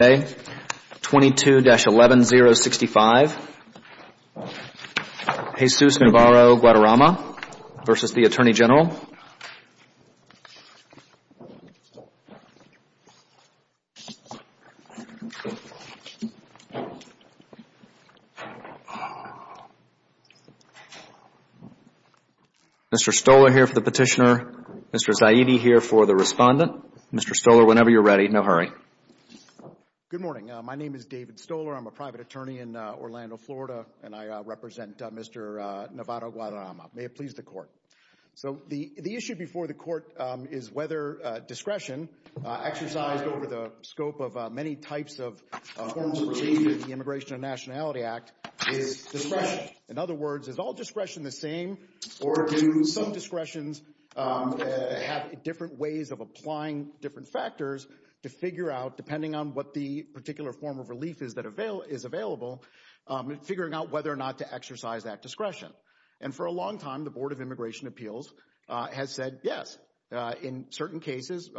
22-11065, Jesus Navarro Guadarrama v. the Attorney General. Mr. Stolar here for the petitioner, Mr. Zaidi here for the respondent. Mr. Stolar, whenever you're ready, no hurry. Good morning. My name is David Stolar. I'm a private attorney in Orlando, Florida, and I represent Mr. Navarro Guadarrama. May it please the Court. So the issue before the Court is whether discretion exercised over the scope of many types of forms of relief in the Immigration and Nationality Act is discretion. In other words, is all discretion the same, or do some discretions have different ways of applying different factors to figure out, depending on what the particular form of relief is that is available, figuring out whether or not to exercise that discretion? And for a long time, the Board of Immigration Appeals has said yes. In certain cases,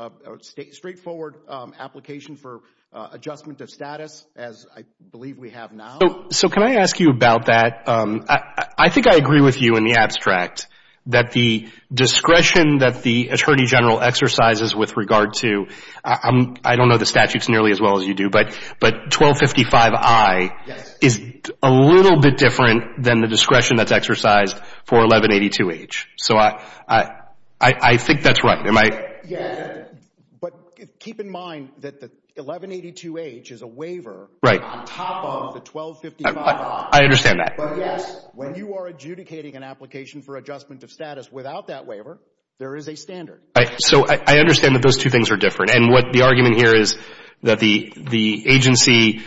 straightforward application for adjustment of status, as I believe we have now. So can I ask you about that? I think I agree with you in the abstract that the discretion that the Attorney General exercises with regard to, I don't know the statutes nearly as well as you do, but 1255I is a little bit different than the discretion that's exercised for 1182H. So I think that's right. But keep in mind that the 1182H is a waiver on top of the 1255I. I understand that. But yes, when you are adjudicating an application for adjustment of status without that waiver, there is a standard. So I understand that those two things are different. And what the argument here is that the agency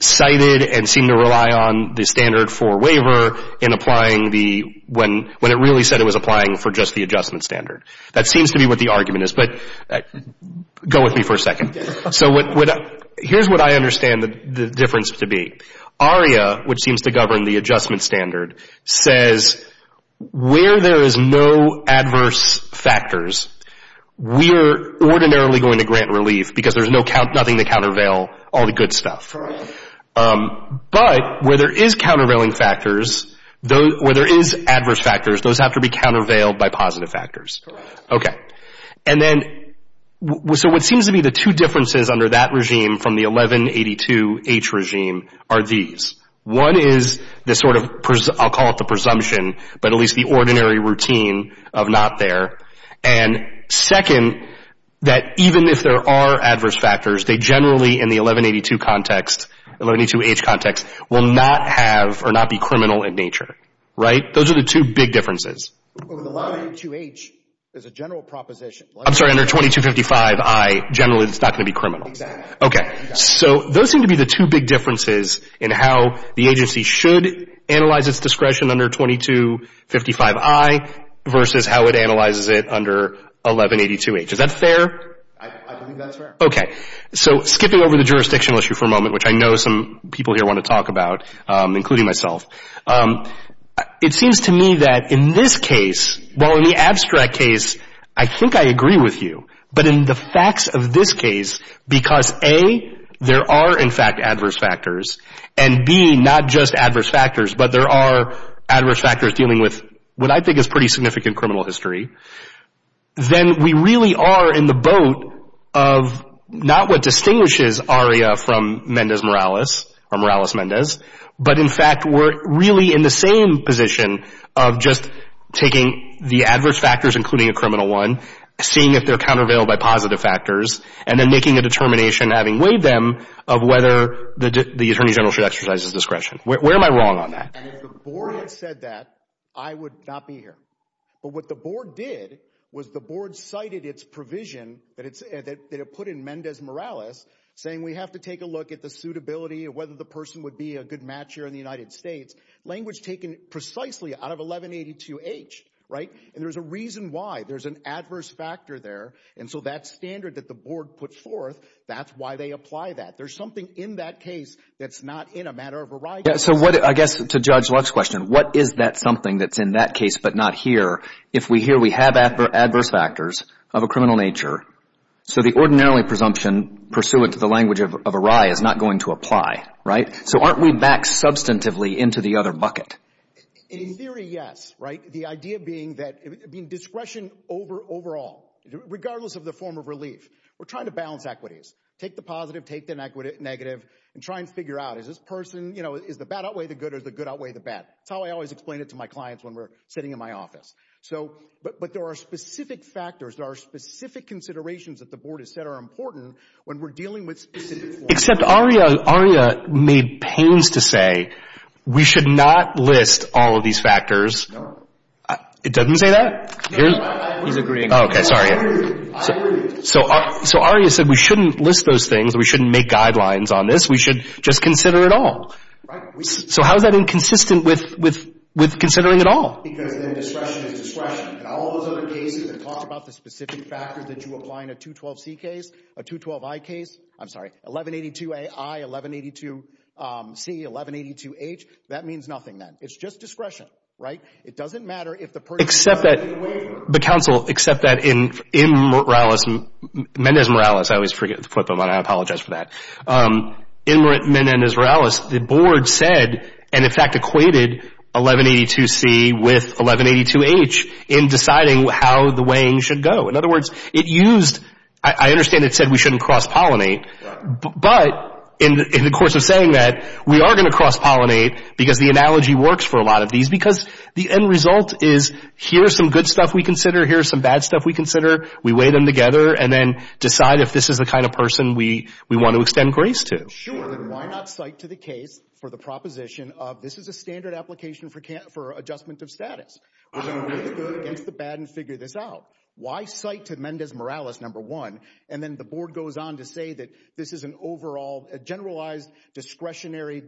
cited and seemed to rely on the standard for waiver in applying the, when it really said it was applying for just the adjustment standard. That seems to be what the argument is, but go with me for a second. So here's what I understand the difference to be. ARIA, which seems to govern the adjustment standard, says where there is no adverse factors, we are ordinarily going to grant relief because there's nothing to countervail all the good stuff. Correct. But where there is countervailing factors, where there is adverse factors, those have to be countervailed by positive factors. Correct. Okay. And then, so what seems to be the two differences under that regime from the 1182H regime are these. One is the sort of, I'll call it the presumption, but at least the ordinary routine of not there. And second, that even if there are adverse factors, they generally in the 1182 context, 1182H context, will not have or not be criminal in nature. Right? Those are the two big differences. But with 1182H, there's a general proposition. I'm sorry, under 2255I, generally it's not going to be criminal. Exactly. Okay. So those seem to be the two big differences in how the agency should analyze its discretion under 2255I versus how it analyzes it under 1182H. Is that fair? I think that's fair. Okay. So skipping over the jurisdictional issue for a moment, which I know some people here want to talk about, including myself, it seems to me that in this case, well, in the abstract case, I think I agree with you. But in the facts of this case, because A, there are in fact adverse factors, and B, not just adverse factors, but there are adverse factors dealing with what I think is pretty significant criminal history, then we really are in the boat of not what distinguishes ARIA from Mendez-Morales or Morales-Mendez, but in fact we're really in the same position of just taking the adverse factors, including a criminal one, seeing if they're countervailed by positive factors, and then making a determination, having weighed them, of whether the attorney general should exercise his discretion. Where am I wrong on that? And if the Board had said that, I would not be here. But what the Board did was the Board cited its provision that it put in Mendez-Morales saying we have to take a look at the suitability of whether the person would be a good matcher in the United States. Language taken precisely out of 1182H. Right? And there's a reason why. There's an adverse factor there. And so that standard that the Board put forth, that's why they apply that. There's something in that case that's not in a matter of ARIA. So what, I guess, to Judge Luck's question, what is that something that's in that case but not here, if we hear we have adverse factors of a criminal nature, so the ordinarily presumption pursuant to the language of ARIA is not going to apply. Right? So aren't we back substantively into the other bucket? In theory, yes. Right? The idea being that discretion overall, regardless of the form of relief, we're trying to balance equities. Take the positive, take the negative, and try and figure out is this person, you know, is the bad outweigh the good or is the good outweigh the bad? That's how I always explain it to my clients when we're sitting in my office. So, but there are specific factors, there are specific considerations that the Board has said are important when we're dealing with specific forms. Except ARIA made pains to say we should not list all of these factors. No. It doesn't say that? No, I agree. He's agreeing. Okay, sorry. I agree. So ARIA said we shouldn't list those things, we shouldn't make guidelines on this, we should just consider it all. Right. So how is that inconsistent with considering it all? Because then discretion is discretion. And all those other cases that talked about the specific factors that you apply in a 212C case, a 212I case, I'm sorry, 1182AI, 1182C, 1182H, that means nothing then. It's just discretion, right? It doesn't matter if the person is outweighing. Except that, but counsel, except that in Mendes-Morales, I always forget the footnote on that, I apologize for that. In Mendes-Morales, the Board said, and in fact equated 1182C with 1182H in deciding how the weighing should go. In other words, it used, I understand it said we shouldn't cross-pollinate, but in the course of saying that, we are going to cross-pollinate because the analogy works for a lot of these because the end result is here are some good stuff we consider, here are some bad stuff we consider. We weigh them together and then decide if this is the kind of person we want to extend grace to. Sure, then why not cite to the case for the proposition of this is a standard application for adjustment of status. We're going to weigh the good against the bad and figure this out. Why cite to Mendes-Morales, number one, and then the Board goes on to say that this is an overall, a generalized discretionary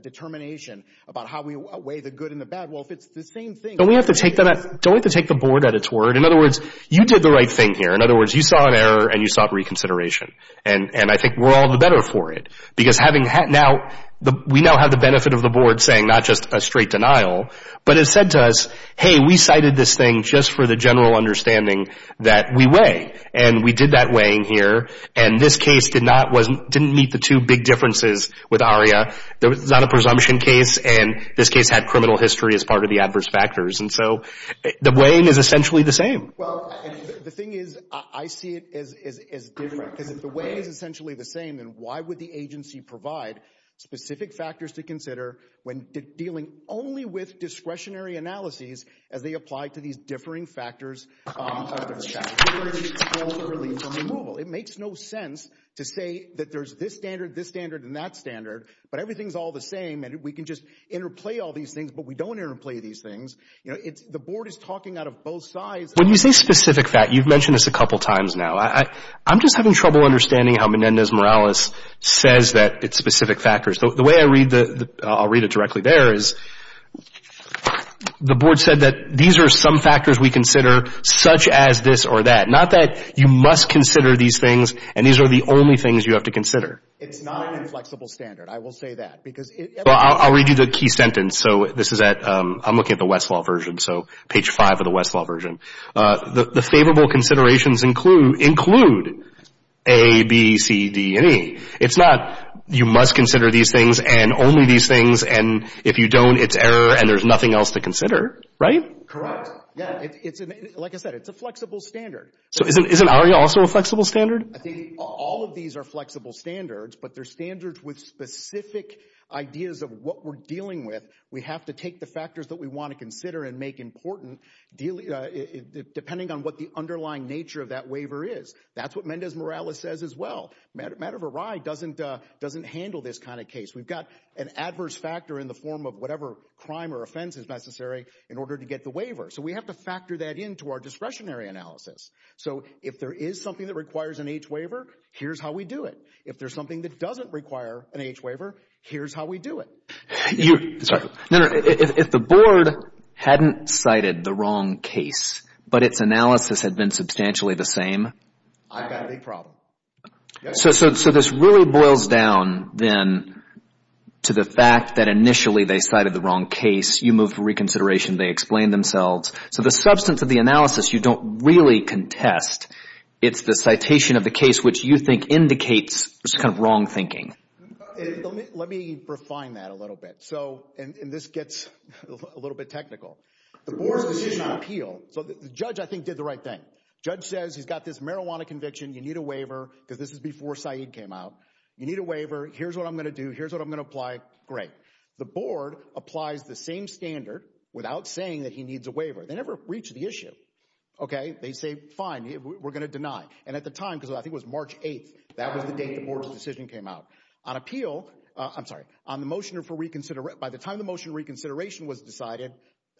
determination about how we weigh the good and the bad. Well, if it's the same thing... Don't we have to take the Board at its word? In other words, you did the right thing here. In other words, you saw an error and you sought reconsideration. And I think we're all the better for it because we now have the benefit of the Board saying not just a straight denial, but it said to us, hey, we cited this thing just for the general understanding that we weigh. And we did that weighing here and this case did not, didn't meet the two big differences with ARIA. There was not a presumption case and this case had criminal history as part of the adverse factors. And so the weighing is essentially the same. Well, the thing is, I see it as different because if the weighing is essentially the same, then why would the agency provide specific factors to consider when dealing only with discretionary analyses as they apply to these differing factors of adverse factors? Where is it culturally from removal? It makes no sense to say that there's this standard, this standard, and that standard, but everything's all the same and we can just interplay all these things, but we don't interplay these things. You know, the Board is talking out of both sides. When you say specific fact, you've mentioned this a couple times now. I'm just having trouble understanding how Menendez-Morales says that it's specific factors. The way I read the, I'll read it directly there, is the Board said that these are some factors we consider such as this or that. Not that you must consider these things and these are the only things you have to consider. It's not an inflexible standard. I will say that. Well, I'll read you the key sentence. So this is at, I'm looking at the Westlaw version, so page five of the Westlaw version. The favorable considerations include A, B, C, D, and E. It's not you must consider these things and only these things and if you don't, it's error and there's nothing else to consider. Right? Correct. Yeah, like I said, it's a flexible standard. So isn't ARIA also a flexible standard? I think all of these are flexible standards, but they're standards with specific ideas of what we're dealing with. We have to take the factors that we want to consider and make important, depending on what the underlying nature of that waiver is. That's what Menendez-Morales says as well. Madhav Rai doesn't handle this kind of case. We've got an adverse factor in the form of whatever crime or offense is necessary in order to get the waiver. So we have to factor that into our discretionary analysis. So if there is something that requires an H waiver, here's how we do it. If there's something that doesn't require an H waiver, here's how we do it. Sorry. No, no. If the board hadn't cited the wrong case, but its analysis had been substantially the same. I've got a big problem. So this really boils down then to the fact that initially they cited the wrong case. You move for reconsideration. They explain themselves. So the substance of the analysis you don't really contest. It's the citation of the case which you think indicates just kind of wrong thinking. Let me refine that a little bit. And this gets a little bit technical. The board's decision on appeal, so the judge I think did the right thing. Judge says he's got this marijuana conviction. You need a waiver because this is before Saeed came out. You need a waiver. Here's what I'm going to do. Here's what I'm going to apply. Great. The board applies the same standard without saying that he needs a waiver. They never reach the issue. Okay. They say fine. We're going to deny. And at the time, because I think it was March 8th, that was the date the board's decision came out. On appeal, I'm sorry, on the motion for reconsideration, by the time the motion for reconsideration was decided,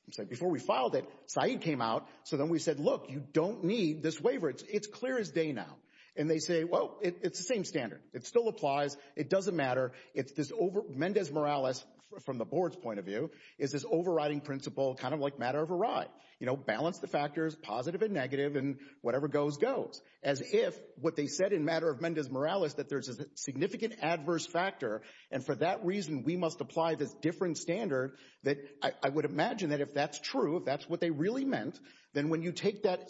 I'm sorry, before we filed it, Saeed came out. So then we said, look, you don't need this waiver. It's clear as day now. And they say, well, it's the same standard. It still applies. It doesn't matter. It's this over, Mendez-Morales, from the board's point of view, is this overriding principle kind of like matter of a ride. You know, balance the factors, positive and negative, and whatever goes, goes. As if what they said in matter of Mendez-Morales that there's a significant adverse factor, and for that reason we must apply this different standard that I would imagine that if that's true, if that's what they really meant, then when you take that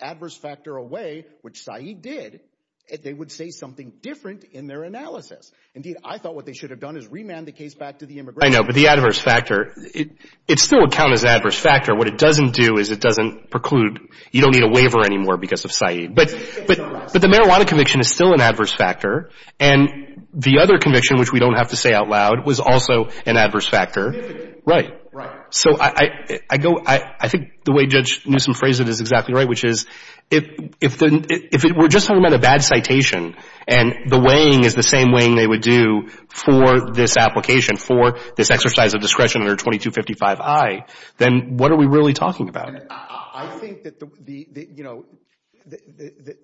adverse factor away, which Saeed did, they would say something different in their analysis. Indeed, I thought what they should have done is remand the case back to the immigration court. I know, but the adverse factor, it still would count as adverse factor. What it doesn't do is it doesn't preclude you don't need a waiver anymore because of Saeed. But the marijuana conviction is still an adverse factor. And the other conviction, which we don't have to say out loud, was also an adverse factor. Significant. Right. Right. So I go, I think the way Judge Newsom phrased it is exactly right, which is if we're just talking about a bad citation and the weighing is the same weighing they would do for this application, for this exercise of discretion under 2255I, then what are we really talking about? I think that the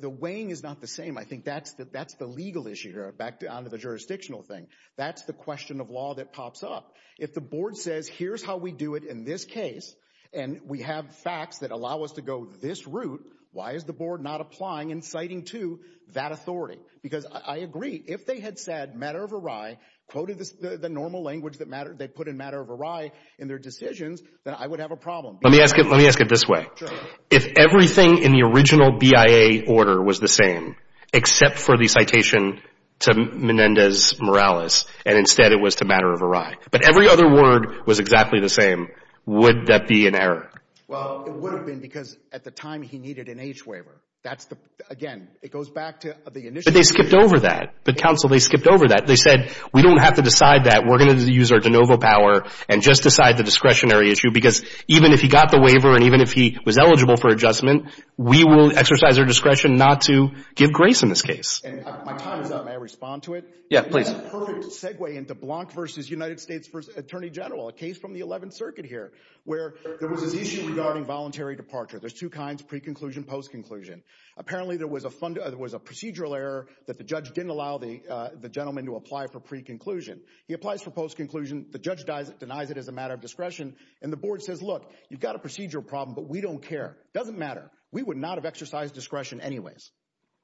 weighing is not the same. I think that's the legal issue here, back down to the jurisdictional thing. That's the question of law that pops up. If the board says here's how we do it in this case and we have facts that allow us to go this route, why is the board not applying and citing to that authority? Because I agree, if they had said matter of awry, quoted the normal language that matter, they put in matter of awry in their decisions, then I would have a problem. Let me ask it this way. Sure. If everything in the original BIA order was the same except for the citation to Menendez-Morales and instead it was to matter of awry, but every other word was exactly the same, would that be an error? Well, it would have been because at the time he needed an H waiver. That's the, again, it goes back to the initial. But they skipped over that. But, counsel, they skipped over that. They said we don't have to decide that. We're going to use our de novo power and just decide the discretionary issue because even if he got the waiver and even if he was eligible for adjustment, we will exercise our discretion not to give grace in this case. My time is up. May I respond to it? Yeah, please. Perfect segue into Blank v. United States v. Attorney General, a case from the 11th Circuit here, where there was this issue regarding voluntary departure. There's two kinds, pre-conclusion, post-conclusion. Apparently there was a procedural error that the judge didn't allow the gentleman to apply for pre-conclusion. He applies for post-conclusion. The judge denies it as a matter of discretion. And the board says, look, you've got a procedural problem, but we don't care. It doesn't matter. We would not have exercised discretion anyways.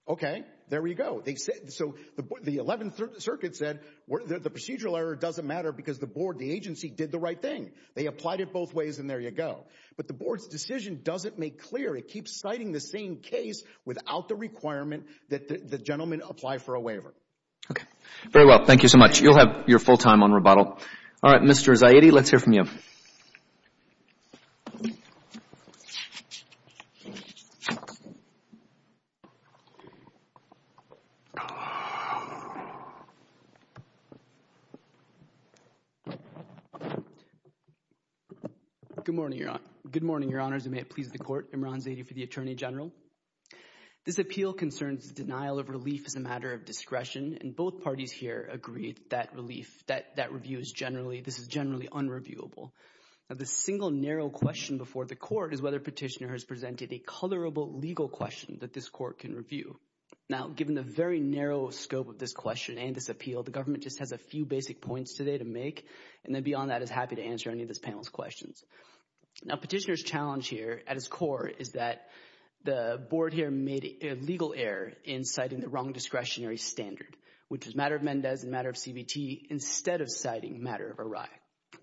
Okay. There you go. So the 11th Circuit said the procedural error doesn't matter because the board, the agency, did the right thing. They applied it both ways and there you go. But the board's decision doesn't make clear. It keeps citing the same case without the requirement that the gentleman apply for a waiver. Okay. Very well. Thank you so much. You'll have your full time on rebuttal. All right. Mr. Zaidi, let's hear from you. Good morning, Your Honors, and may it please the Court. Imran Zaidi for the Attorney General. This appeal concerns the denial of relief as a matter of discretion, and both parties here agree that that review is generally unreviewable. Now, the single narrow question before the Court is whether Petitioner has presented a colorable legal question that this Court can review. Now, given the very narrow scope of this question and this appeal, the government just has a few basic points today to make, and then beyond that is happy to answer any of this panel's questions. Now, Petitioner's challenge here at its core is that the board here made a legal error in citing the wrong discretionary standard, which is a matter of Mendez and a matter of CBT, instead of citing a matter of Arai.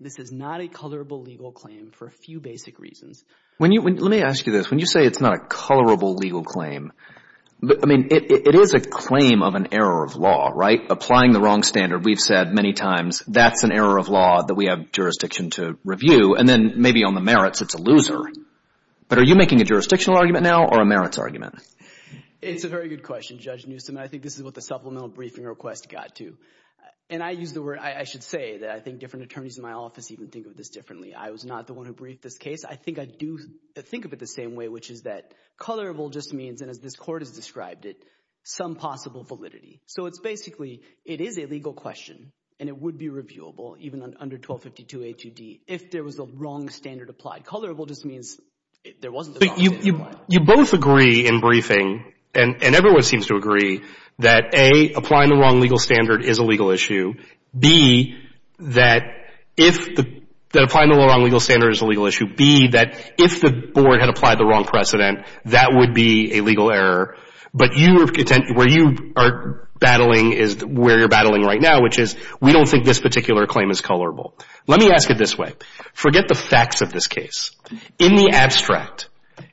This is not a colorable legal claim for a few basic reasons. Let me ask you this. When you say it's not a colorable legal claim, I mean, it is a claim of an error of law, right? Applying the wrong standard, we've said many times, that's an error of law that we have jurisdiction to review. And then maybe on the merits, it's a loser. But are you making a jurisdictional argument now or a merits argument? It's a very good question, Judge Newsom, and I think this is what the supplemental briefing request got to. And I use the word – I should say that I think different attorneys in my office even think of this differently. I was not the one who briefed this case. I think I do think of it the same way, which is that colorable just means, and as this Court has described it, some possible validity. So it's basically, it is a legal question, and it would be reviewable even under 1252A2D if there was a wrong standard applied. Colorable just means there wasn't a wrong standard applied. You both agree in briefing, and everyone seems to agree, that, A, applying the wrong legal standard is a legal issue. B, that if the – that applying the wrong legal standard is a legal issue. B, that if the Board had applied the wrong precedent, that would be a legal error. But you – where you are battling is where you're battling right now, which is we don't think this particular claim is colorable. Let me ask it this way. Forget the facts of this case. In the abstract,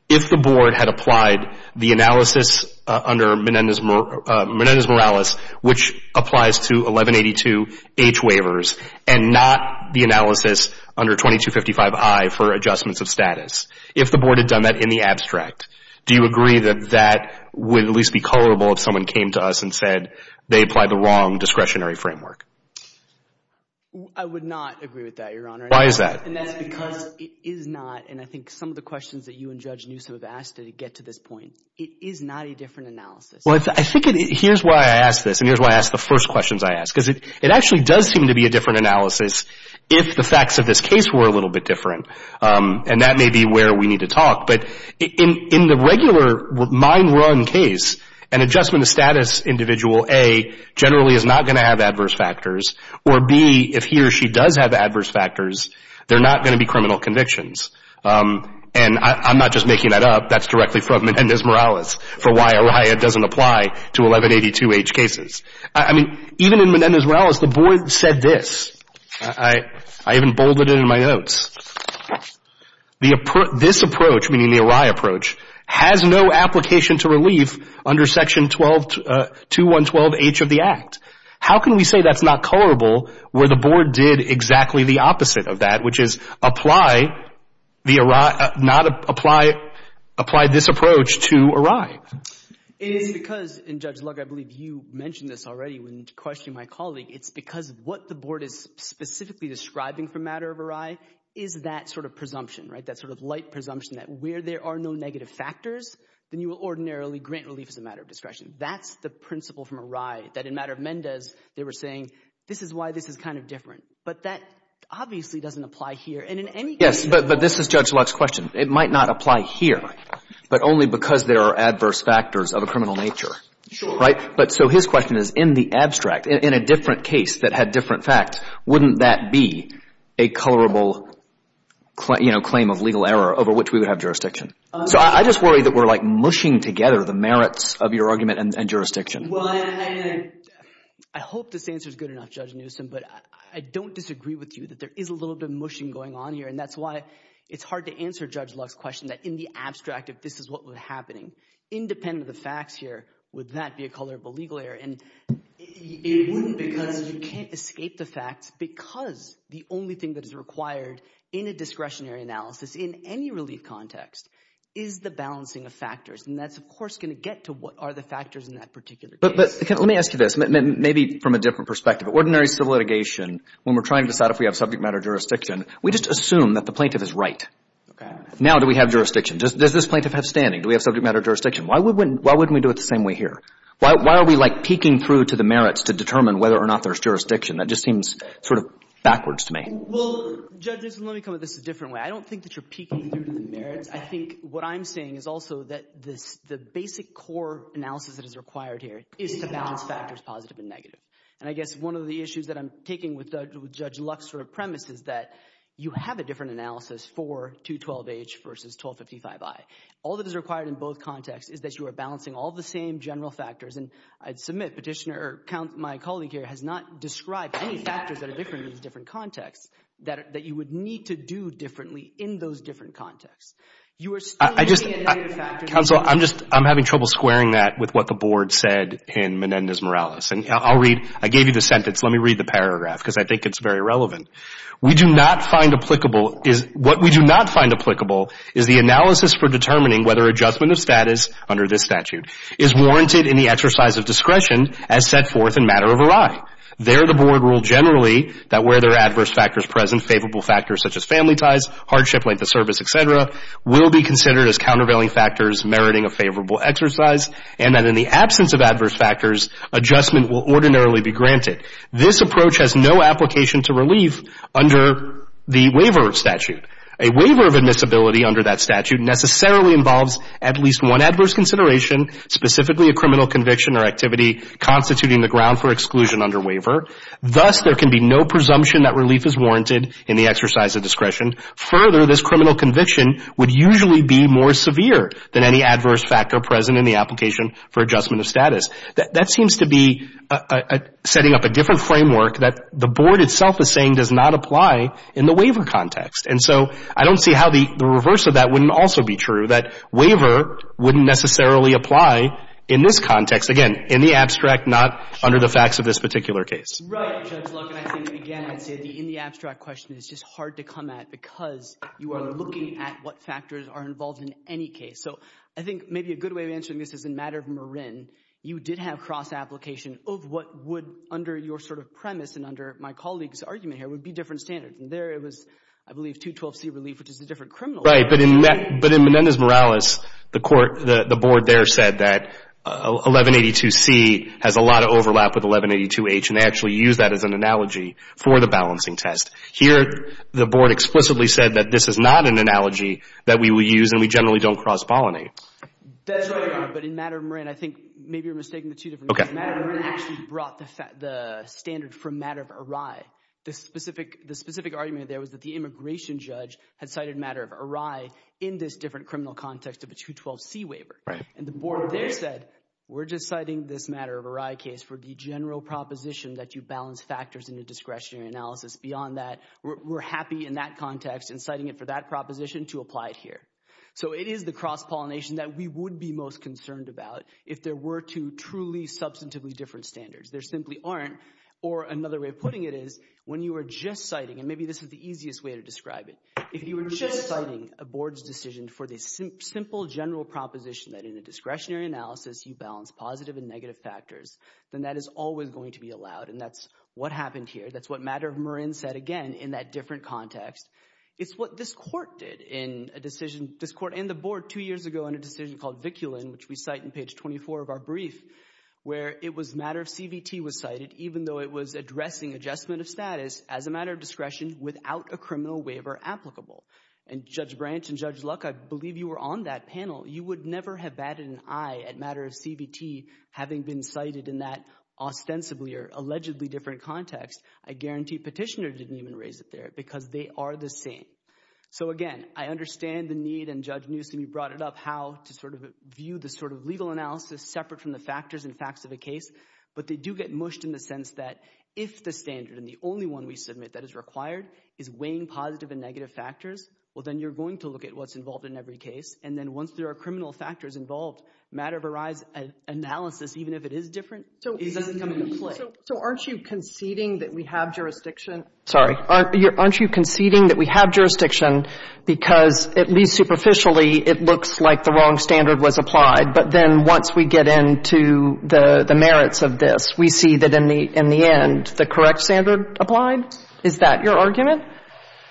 if the Board had applied the analysis under Menendez-Morales, which applies to 1182H waivers and not the analysis under 2255I for adjustments of status, if the Board had done that in the abstract, do you agree that that would at least be colorable if someone came to us and said they applied the wrong discretionary framework? I would not agree with that, Your Honor. Why is that? And that's because it is not, and I think some of the questions that you and Judge Newsom have asked to get to this point, it is not a different analysis. Well, I think it – here's why I ask this, and here's why I ask the first questions I ask, because it actually does seem to be a different analysis if the facts of this case were a little bit different, and that may be where we need to talk. But in the regular mind-run case, an adjustment of status individual, A, generally is not going to have adverse factors, or B, if he or she does have adverse factors, they're not going to be criminal convictions. And I'm not just making that up. That's directly from Menendez-Morales for why a riot doesn't apply to 1182H cases. I mean, even in Menendez-Morales, the Board said this. I even bolded it in my notes. This approach, meaning the Arai approach, has no application to relief under Section 212H of the Act. How can we say that's not colorable where the Board did exactly the opposite of that, which is apply the – not apply this approach to Arai? It is because, and Judge Lug, I believe you mentioned this already when questioning my colleague, it's because what the Board is specifically describing for matter of Arai is that sort of presumption, right, that sort of light presumption that where there are no negative factors, then you will ordinarily grant relief as a matter of discretion. That's the principle from Arai that in matter of Mendez they were saying this is why this is kind of different. But that obviously doesn't apply here. And in any case – Yes, but this is Judge Lug's question. It might not apply here, but only because there are adverse factors of a criminal nature. Sure. Right? But so his question is in the abstract, in a different case that had different facts, wouldn't that be a colorable claim of legal error over which we would have jurisdiction? So I just worry that we're like mushing together the merits of your argument and jurisdiction. Well, I hope this answer is good enough, Judge Newsom, but I don't disagree with you that there is a little bit of mushing going on here. And that's why it's hard to answer Judge Lug's question that in the abstract if this is what was happening, independent of the facts here, would that be a colorable legal error? And it wouldn't because you can't escape the facts because the only thing that is required in a discretionary analysis, in any relief context, is the balancing of factors. And that's, of course, going to get to what are the factors in that particular case. But let me ask you this, maybe from a different perspective. Ordinary civil litigation, when we're trying to decide if we have subject matter jurisdiction, we just assume that the plaintiff is right. Okay. Now do we have jurisdiction? Does this plaintiff have standing? Do we have subject matter jurisdiction? Why wouldn't we do it the same way here? Why are we, like, peeking through to the merits to determine whether or not there's jurisdiction? That just seems sort of backwards to me. Well, Judge Newsom, let me come at this a different way. I don't think that you're peeking through to the merits. I think what I'm saying is also that the basic core analysis that is required here is to balance factors, positive and negative. And I guess one of the issues that I'm taking with Judge Lug's sort of premise is that you have a different analysis for 212H versus 1255I. All that is required in both contexts is that you are balancing all the same general factors. And I'd submit Petitioner or my colleague here has not described any factors that are different in these different contexts that you would need to do differently in those different contexts. You are still looking at negative factors. Counsel, I'm having trouble squaring that with what the Board said in Menendez-Morales. And I'll read. I gave you the sentence. Let me read the paragraph because I think it's very relevant. We do not find applicable is what we do not find applicable is the analysis for determining whether adjustment of status under this statute is warranted in the exercise of discretion as set forth in Matter of Array. There the Board ruled generally that where there are adverse factors present, favorable factors such as family ties, hardship, length of service, et cetera, will be considered as countervailing factors meriting a favorable exercise and that in the absence of adverse factors, adjustment will ordinarily be granted. This approach has no application to relief under the waiver statute. A waiver of admissibility under that statute necessarily involves at least one adverse consideration, specifically a criminal conviction or activity constituting the ground for exclusion under waiver. Thus, there can be no presumption that relief is warranted in the exercise of discretion. Further, this criminal conviction would usually be more severe than any adverse factor present in the application for adjustment of status. That seems to be setting up a different framework that the Board itself is saying does not apply in the waiver context. And so I don't see how the reverse of that wouldn't also be true, that waiver wouldn't necessarily apply in this context. Again, in the abstract, not under the facts of this particular case. Right, Judge Luck. And I think, again, I'd say the in the abstract question is just hard to come at because you are looking at what factors are involved in any case. So I think maybe a good way of answering this is in the matter of Marin, you did have cross-application of what would, under your sort of premise and under my colleague's argument here, would be different standards. And there it was, I believe, 212C relief, which is a different criminal conviction. Right, but in Menendez-Morales, the Board there said that 1182C has a lot of overlap with 1182H, and they actually used that as an analogy for the balancing test. Here, the Board explicitly said that this is not an analogy that we would use and we generally don't cross-pollinate. That's right, Your Honor, but in matter of Marin, I think maybe you're mistaking the two different cases. Matter of Marin actually brought the standard from matter of Arai. The specific argument there was that the immigration judge had cited matter of Arai in this different criminal context of a 212C waiver. And the Board there said we're just citing this matter of Arai case for the general proposition that you balance factors in a discretionary analysis beyond that. We're happy in that context in citing it for that proposition to apply it here. So it is the cross-pollination that we would be most concerned about if there were two truly substantively different standards. There simply aren't. Or another way of putting it is when you are just citing, and maybe this is the easiest way to describe it, if you are just citing a Board's decision for the simple general proposition that in a discretionary analysis, you balance positive and negative factors, then that is always going to be allowed, and that's what happened here. That's what matter of Marin said again in that different context. It's what this Court did in a decision, this Court and the Board two years ago in a decision called Viculin, which we cite in page 24 of our brief, where it was matter of CBT was cited, even though it was addressing adjustment of status as a matter of discretion without a criminal waiver applicable. And Judge Branch and Judge Luck, I believe you were on that panel. You would never have batted an eye at matter of CBT having been cited in that ostensibly or allegedly different context. I guarantee Petitioner didn't even raise it there because they are the same. So, again, I understand the need, and Judge Newsom, you brought it up, how to sort of view the sort of legal analysis separate from the factors and facts of a case, but they do get mushed in the sense that if the standard and the only one we submit that is required is weighing positive and negative factors, well, then you're going to look at what's involved in every case, and then once there are criminal factors involved, matter of arise analysis, even if it is different, it doesn't come into play. So aren't you conceding that we have jurisdiction? Sorry. Aren't you conceding that we have jurisdiction because at least superficially it looks like the wrong standard was applied, but then once we get into the merits of this, we see that in the end the correct standard applied? Is that your argument?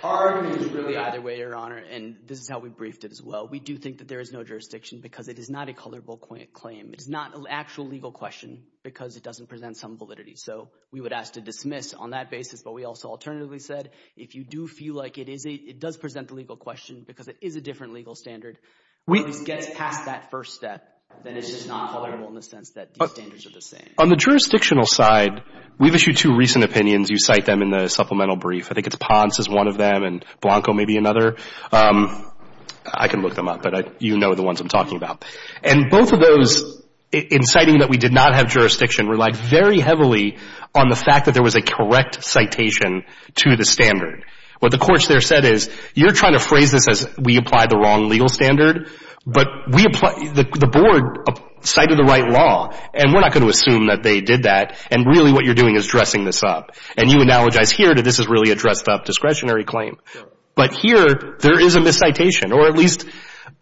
Our argument is really either way, Your Honor, and this is how we briefed it as well. We do think that there is no jurisdiction because it is not a colorable claim. It is not an actual legal question because it doesn't present some validity. So we would ask to dismiss on that basis, but we also alternatively said if you do feel like it does present a legal question because it is a different legal standard or at least gets past that first step, then it's just not colorable in the sense that these standards are the same. On the jurisdictional side, we've issued two recent opinions. You cite them in the supplemental brief. I think it's Ponce is one of them and Blanco may be another. I can look them up, but you know the ones I'm talking about. And both of those, in citing that we did not have jurisdiction, relied very heavily on the fact that there was a correct citation to the standard. What the courts there said is you're trying to phrase this as we applied the wrong legal standard, but the board cited the right law, and we're not going to assume that they did that, and really what you're doing is dressing this up. And you analogize here that this is really a dressed-up discretionary claim. But here there is a miscitation or at least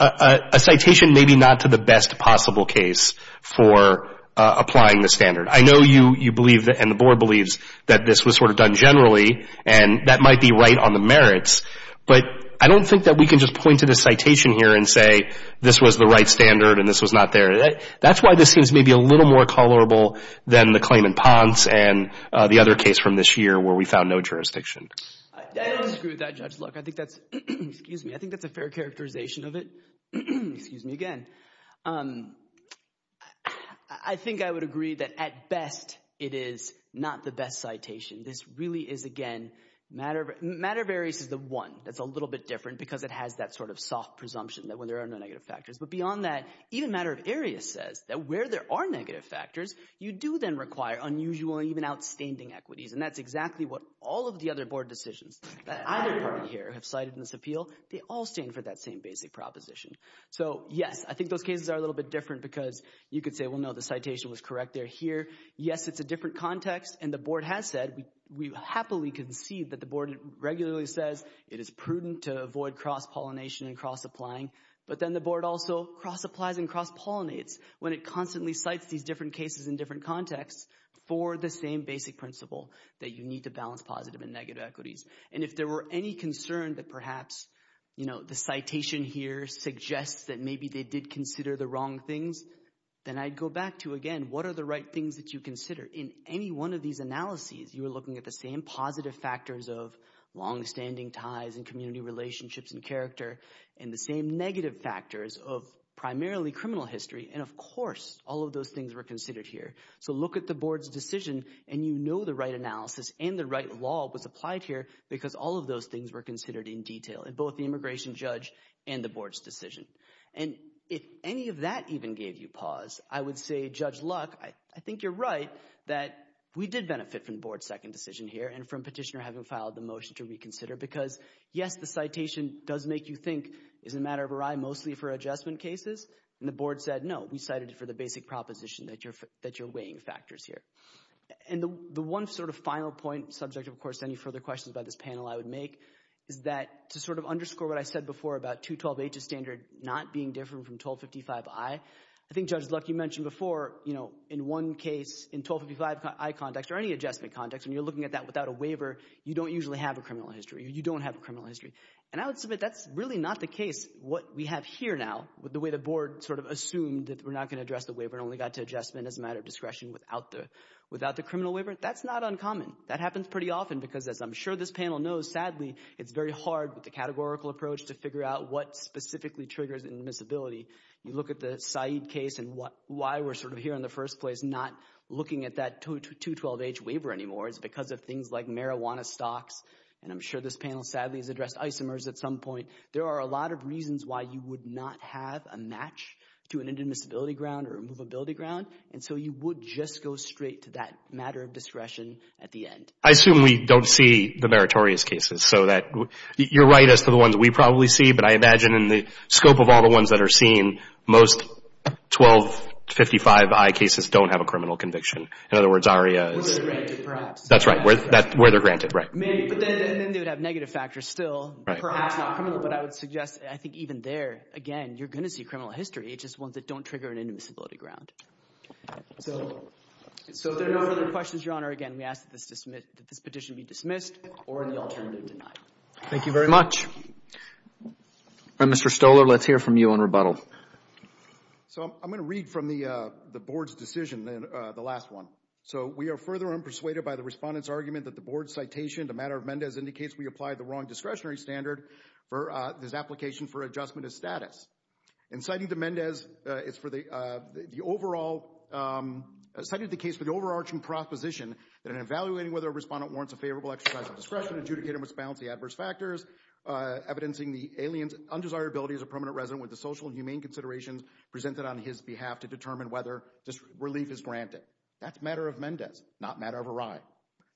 a citation maybe not to the best possible case for applying the standard. I know you believe and the board believes that this was sort of done generally and that might be right on the merits, but I don't think that we can just point to the citation here and say this was the right standard and this was not there. That's why this seems maybe a little more colorable than the claim in Ponce and the other case from this year where we found no jurisdiction. Screw that, Judge Luck. I think that's a fair characterization of it. Excuse me again. I think I would agree that at best it is not the best citation. This really is, again, matter of areas is the one that's a little bit different because it has that sort of soft presumption that when there are no negative factors. But beyond that, even matter of areas says that where there are negative factors, you do then require unusual and even outstanding equities, and that's exactly what all of the other board decisions that either party here have cited in this appeal. They all stand for that same basic proposition. So, yes, I think those cases are a little bit different because you could say, well, no, the citation was correct. They're here. Yes, it's a different context, and the board has said. We happily concede that the board regularly says it is prudent to avoid cross-pollination and cross-applying, but then the board also cross-applies and cross-pollinates when it constantly cites these different cases in different contexts for the same basic principle that you need to balance positive and negative equities. And if there were any concern that perhaps the citation here suggests that maybe they did consider the wrong things, then I'd go back to, again, what are the right things that you consider? In any one of these analyses, you were looking at the same positive factors of longstanding ties and community relationships and character and the same negative factors of primarily criminal history. And, of course, all of those things were considered here. So look at the board's decision, and you know the right analysis and the right law was applied here because all of those things were considered in detail in both the immigration judge and the board's decision. And if any of that even gave you pause, I would say, Judge Luck, I think you're right that we did benefit from the board's second decision here and from Petitioner having filed the motion to reconsider because, yes, the citation does make you think, is it a matter of a right mostly for adjustment cases? And the board said, no, we cited it for the basic proposition that you're weighing factors here. And the one sort of final point, subject, of course, to any further questions about this panel I would make, is that to sort of underscore what I said before about 212H's standard not being different from 1255I, I think, Judge Luck, you mentioned before in one case in 1255I context or any adjustment context when you're looking at that without a waiver, you don't usually have a criminal history. You don't have a criminal history. And I would submit that's really not the case. What we have here now with the way the board sort of assumed that we're not going to address the waiver and only got to adjustment as a matter of discretion without the criminal waiver, that's not uncommon. That happens pretty often because, as I'm sure this panel knows, sadly, it's very hard with the categorical approach to figure out what specifically triggers admissibility. You look at the Said case and why we're sort of here in the first place not looking at that 212H waiver anymore. It's because of things like marijuana stocks. And I'm sure this panel sadly has addressed isomers at some point. There are a lot of reasons why you would not have a match to an inadmissibility ground or a movability ground. And so you would just go straight to that matter of discretion at the end. I assume we don't see the meritorious cases. So you're right as to the ones we probably see, but I imagine in the scope of all the ones that are seen, most 1255I cases don't have a criminal conviction. In other words, ARIA is- Where they're granted, perhaps. That's right. Where they're granted, right. But then they would have negative factors still, perhaps not criminal. But I would suggest I think even there, again, you're going to see criminal history. It's just ones that don't trigger an admissibility ground. So if there are no other questions, Your Honor, again, we ask that this petition be dismissed or the alternative denied. Thank you very much. Mr. Stoler, let's hear from you on rebuttal. So I'm going to read from the Board's decision, the last one. So we are further unpersuaded by the Respondent's argument that the Board's citation to matter of Mendez indicates we applied the wrong discretionary standard for this application for adjustment of status. In citing to Mendez, it's for the overall- citing the case for the overarching proposition that in evaluating whether a Respondent warrants a favorable exercise of discretion, an adjudicator must balance the adverse factors, evidencing the alien's undesirability as a permanent resident with the social and humane considerations presented on his behalf to determine whether this relief is granted. That's matter of Mendez, not matter of a ride.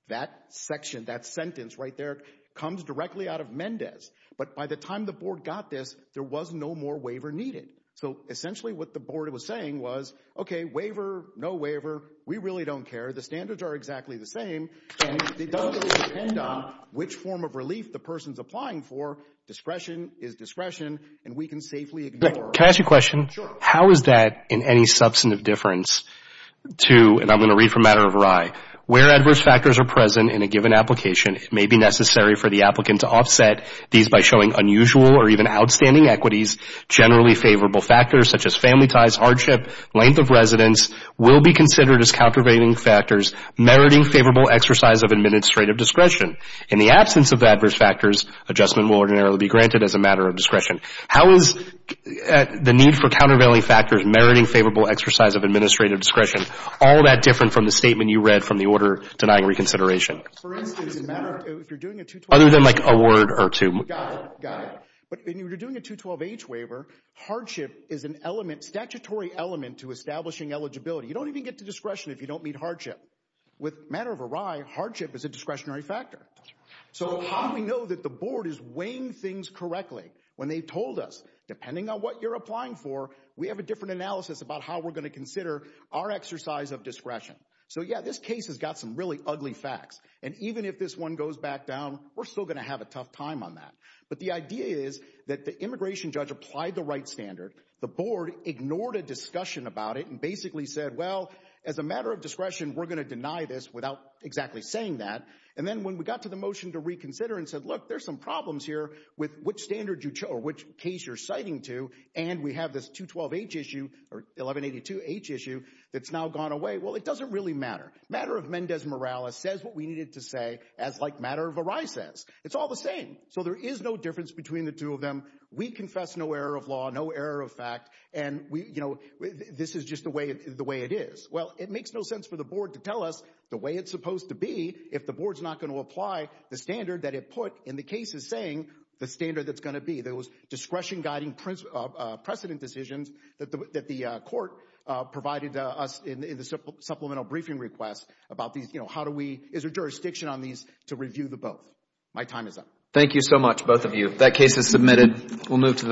That section, that sentence right there comes directly out of Mendez. But by the time the Board got this, there was no more waiver needed. So essentially what the Board was saying was, okay, waiver, no waiver, we really don't care. The standards are exactly the same, and it doesn't really depend on which form of relief the person's applying for. Discretion is discretion, and we can safely ignore- Can I ask you a question? Sure. How is that in any substantive difference to- and I'm going to read from matter of ride. Where adverse factors are present in a given application, it may be necessary for the applicant to offset these by showing unusual or even outstanding equities. Generally favorable factors, such as family ties, hardship, length of residence, will be considered as countervailing factors, meriting favorable exercise of administrative discretion. In the absence of adverse factors, adjustment will ordinarily be granted as a matter of discretion. How is the need for countervailing factors meriting favorable exercise of administrative discretion all that different from the statement you read from the order denying reconsideration? For instance, if you're doing a 212- Other than like a word or two. Got it, got it. But when you're doing a 212-H waiver, hardship is an element, statutory element to establishing eligibility. You don't even get to discretion if you don't meet hardship. With matter of a ride, hardship is a discretionary factor. So how do we know that the board is weighing things correctly? When they told us, depending on what you're applying for, we have a different analysis about how we're going to consider our exercise of discretion. So yeah, this case has got some really ugly facts, and even if this one goes back down, we're still going to have a tough time on that. But the idea is that the immigration judge applied the right standard. The board ignored a discussion about it and basically said, well, as a matter of discretion, we're going to deny this without exactly saying that. And then when we got to the motion to reconsider and said, look, there's some problems here with which standard or which case you're citing to. And we have this 212-H issue or 1182-H issue that's now gone away. Well, it doesn't really matter. Matter of Mendez Morales says what we needed to say as like matter of a ride says. It's all the same. So there is no difference between the two of them. We confess no error of law, no error of fact. And this is just the way it is. Well, it makes no sense for the board to tell us the way it's supposed to be if the board's not going to apply the standard that it put in the cases saying the standard that's going to be. There was discretion-guiding precedent decisions that the court provided us in the supplemental briefing request about these. How do we – is there jurisdiction on these to review the both? My time is up. Thank you so much, both of you. That case is submitted. We'll move to the next.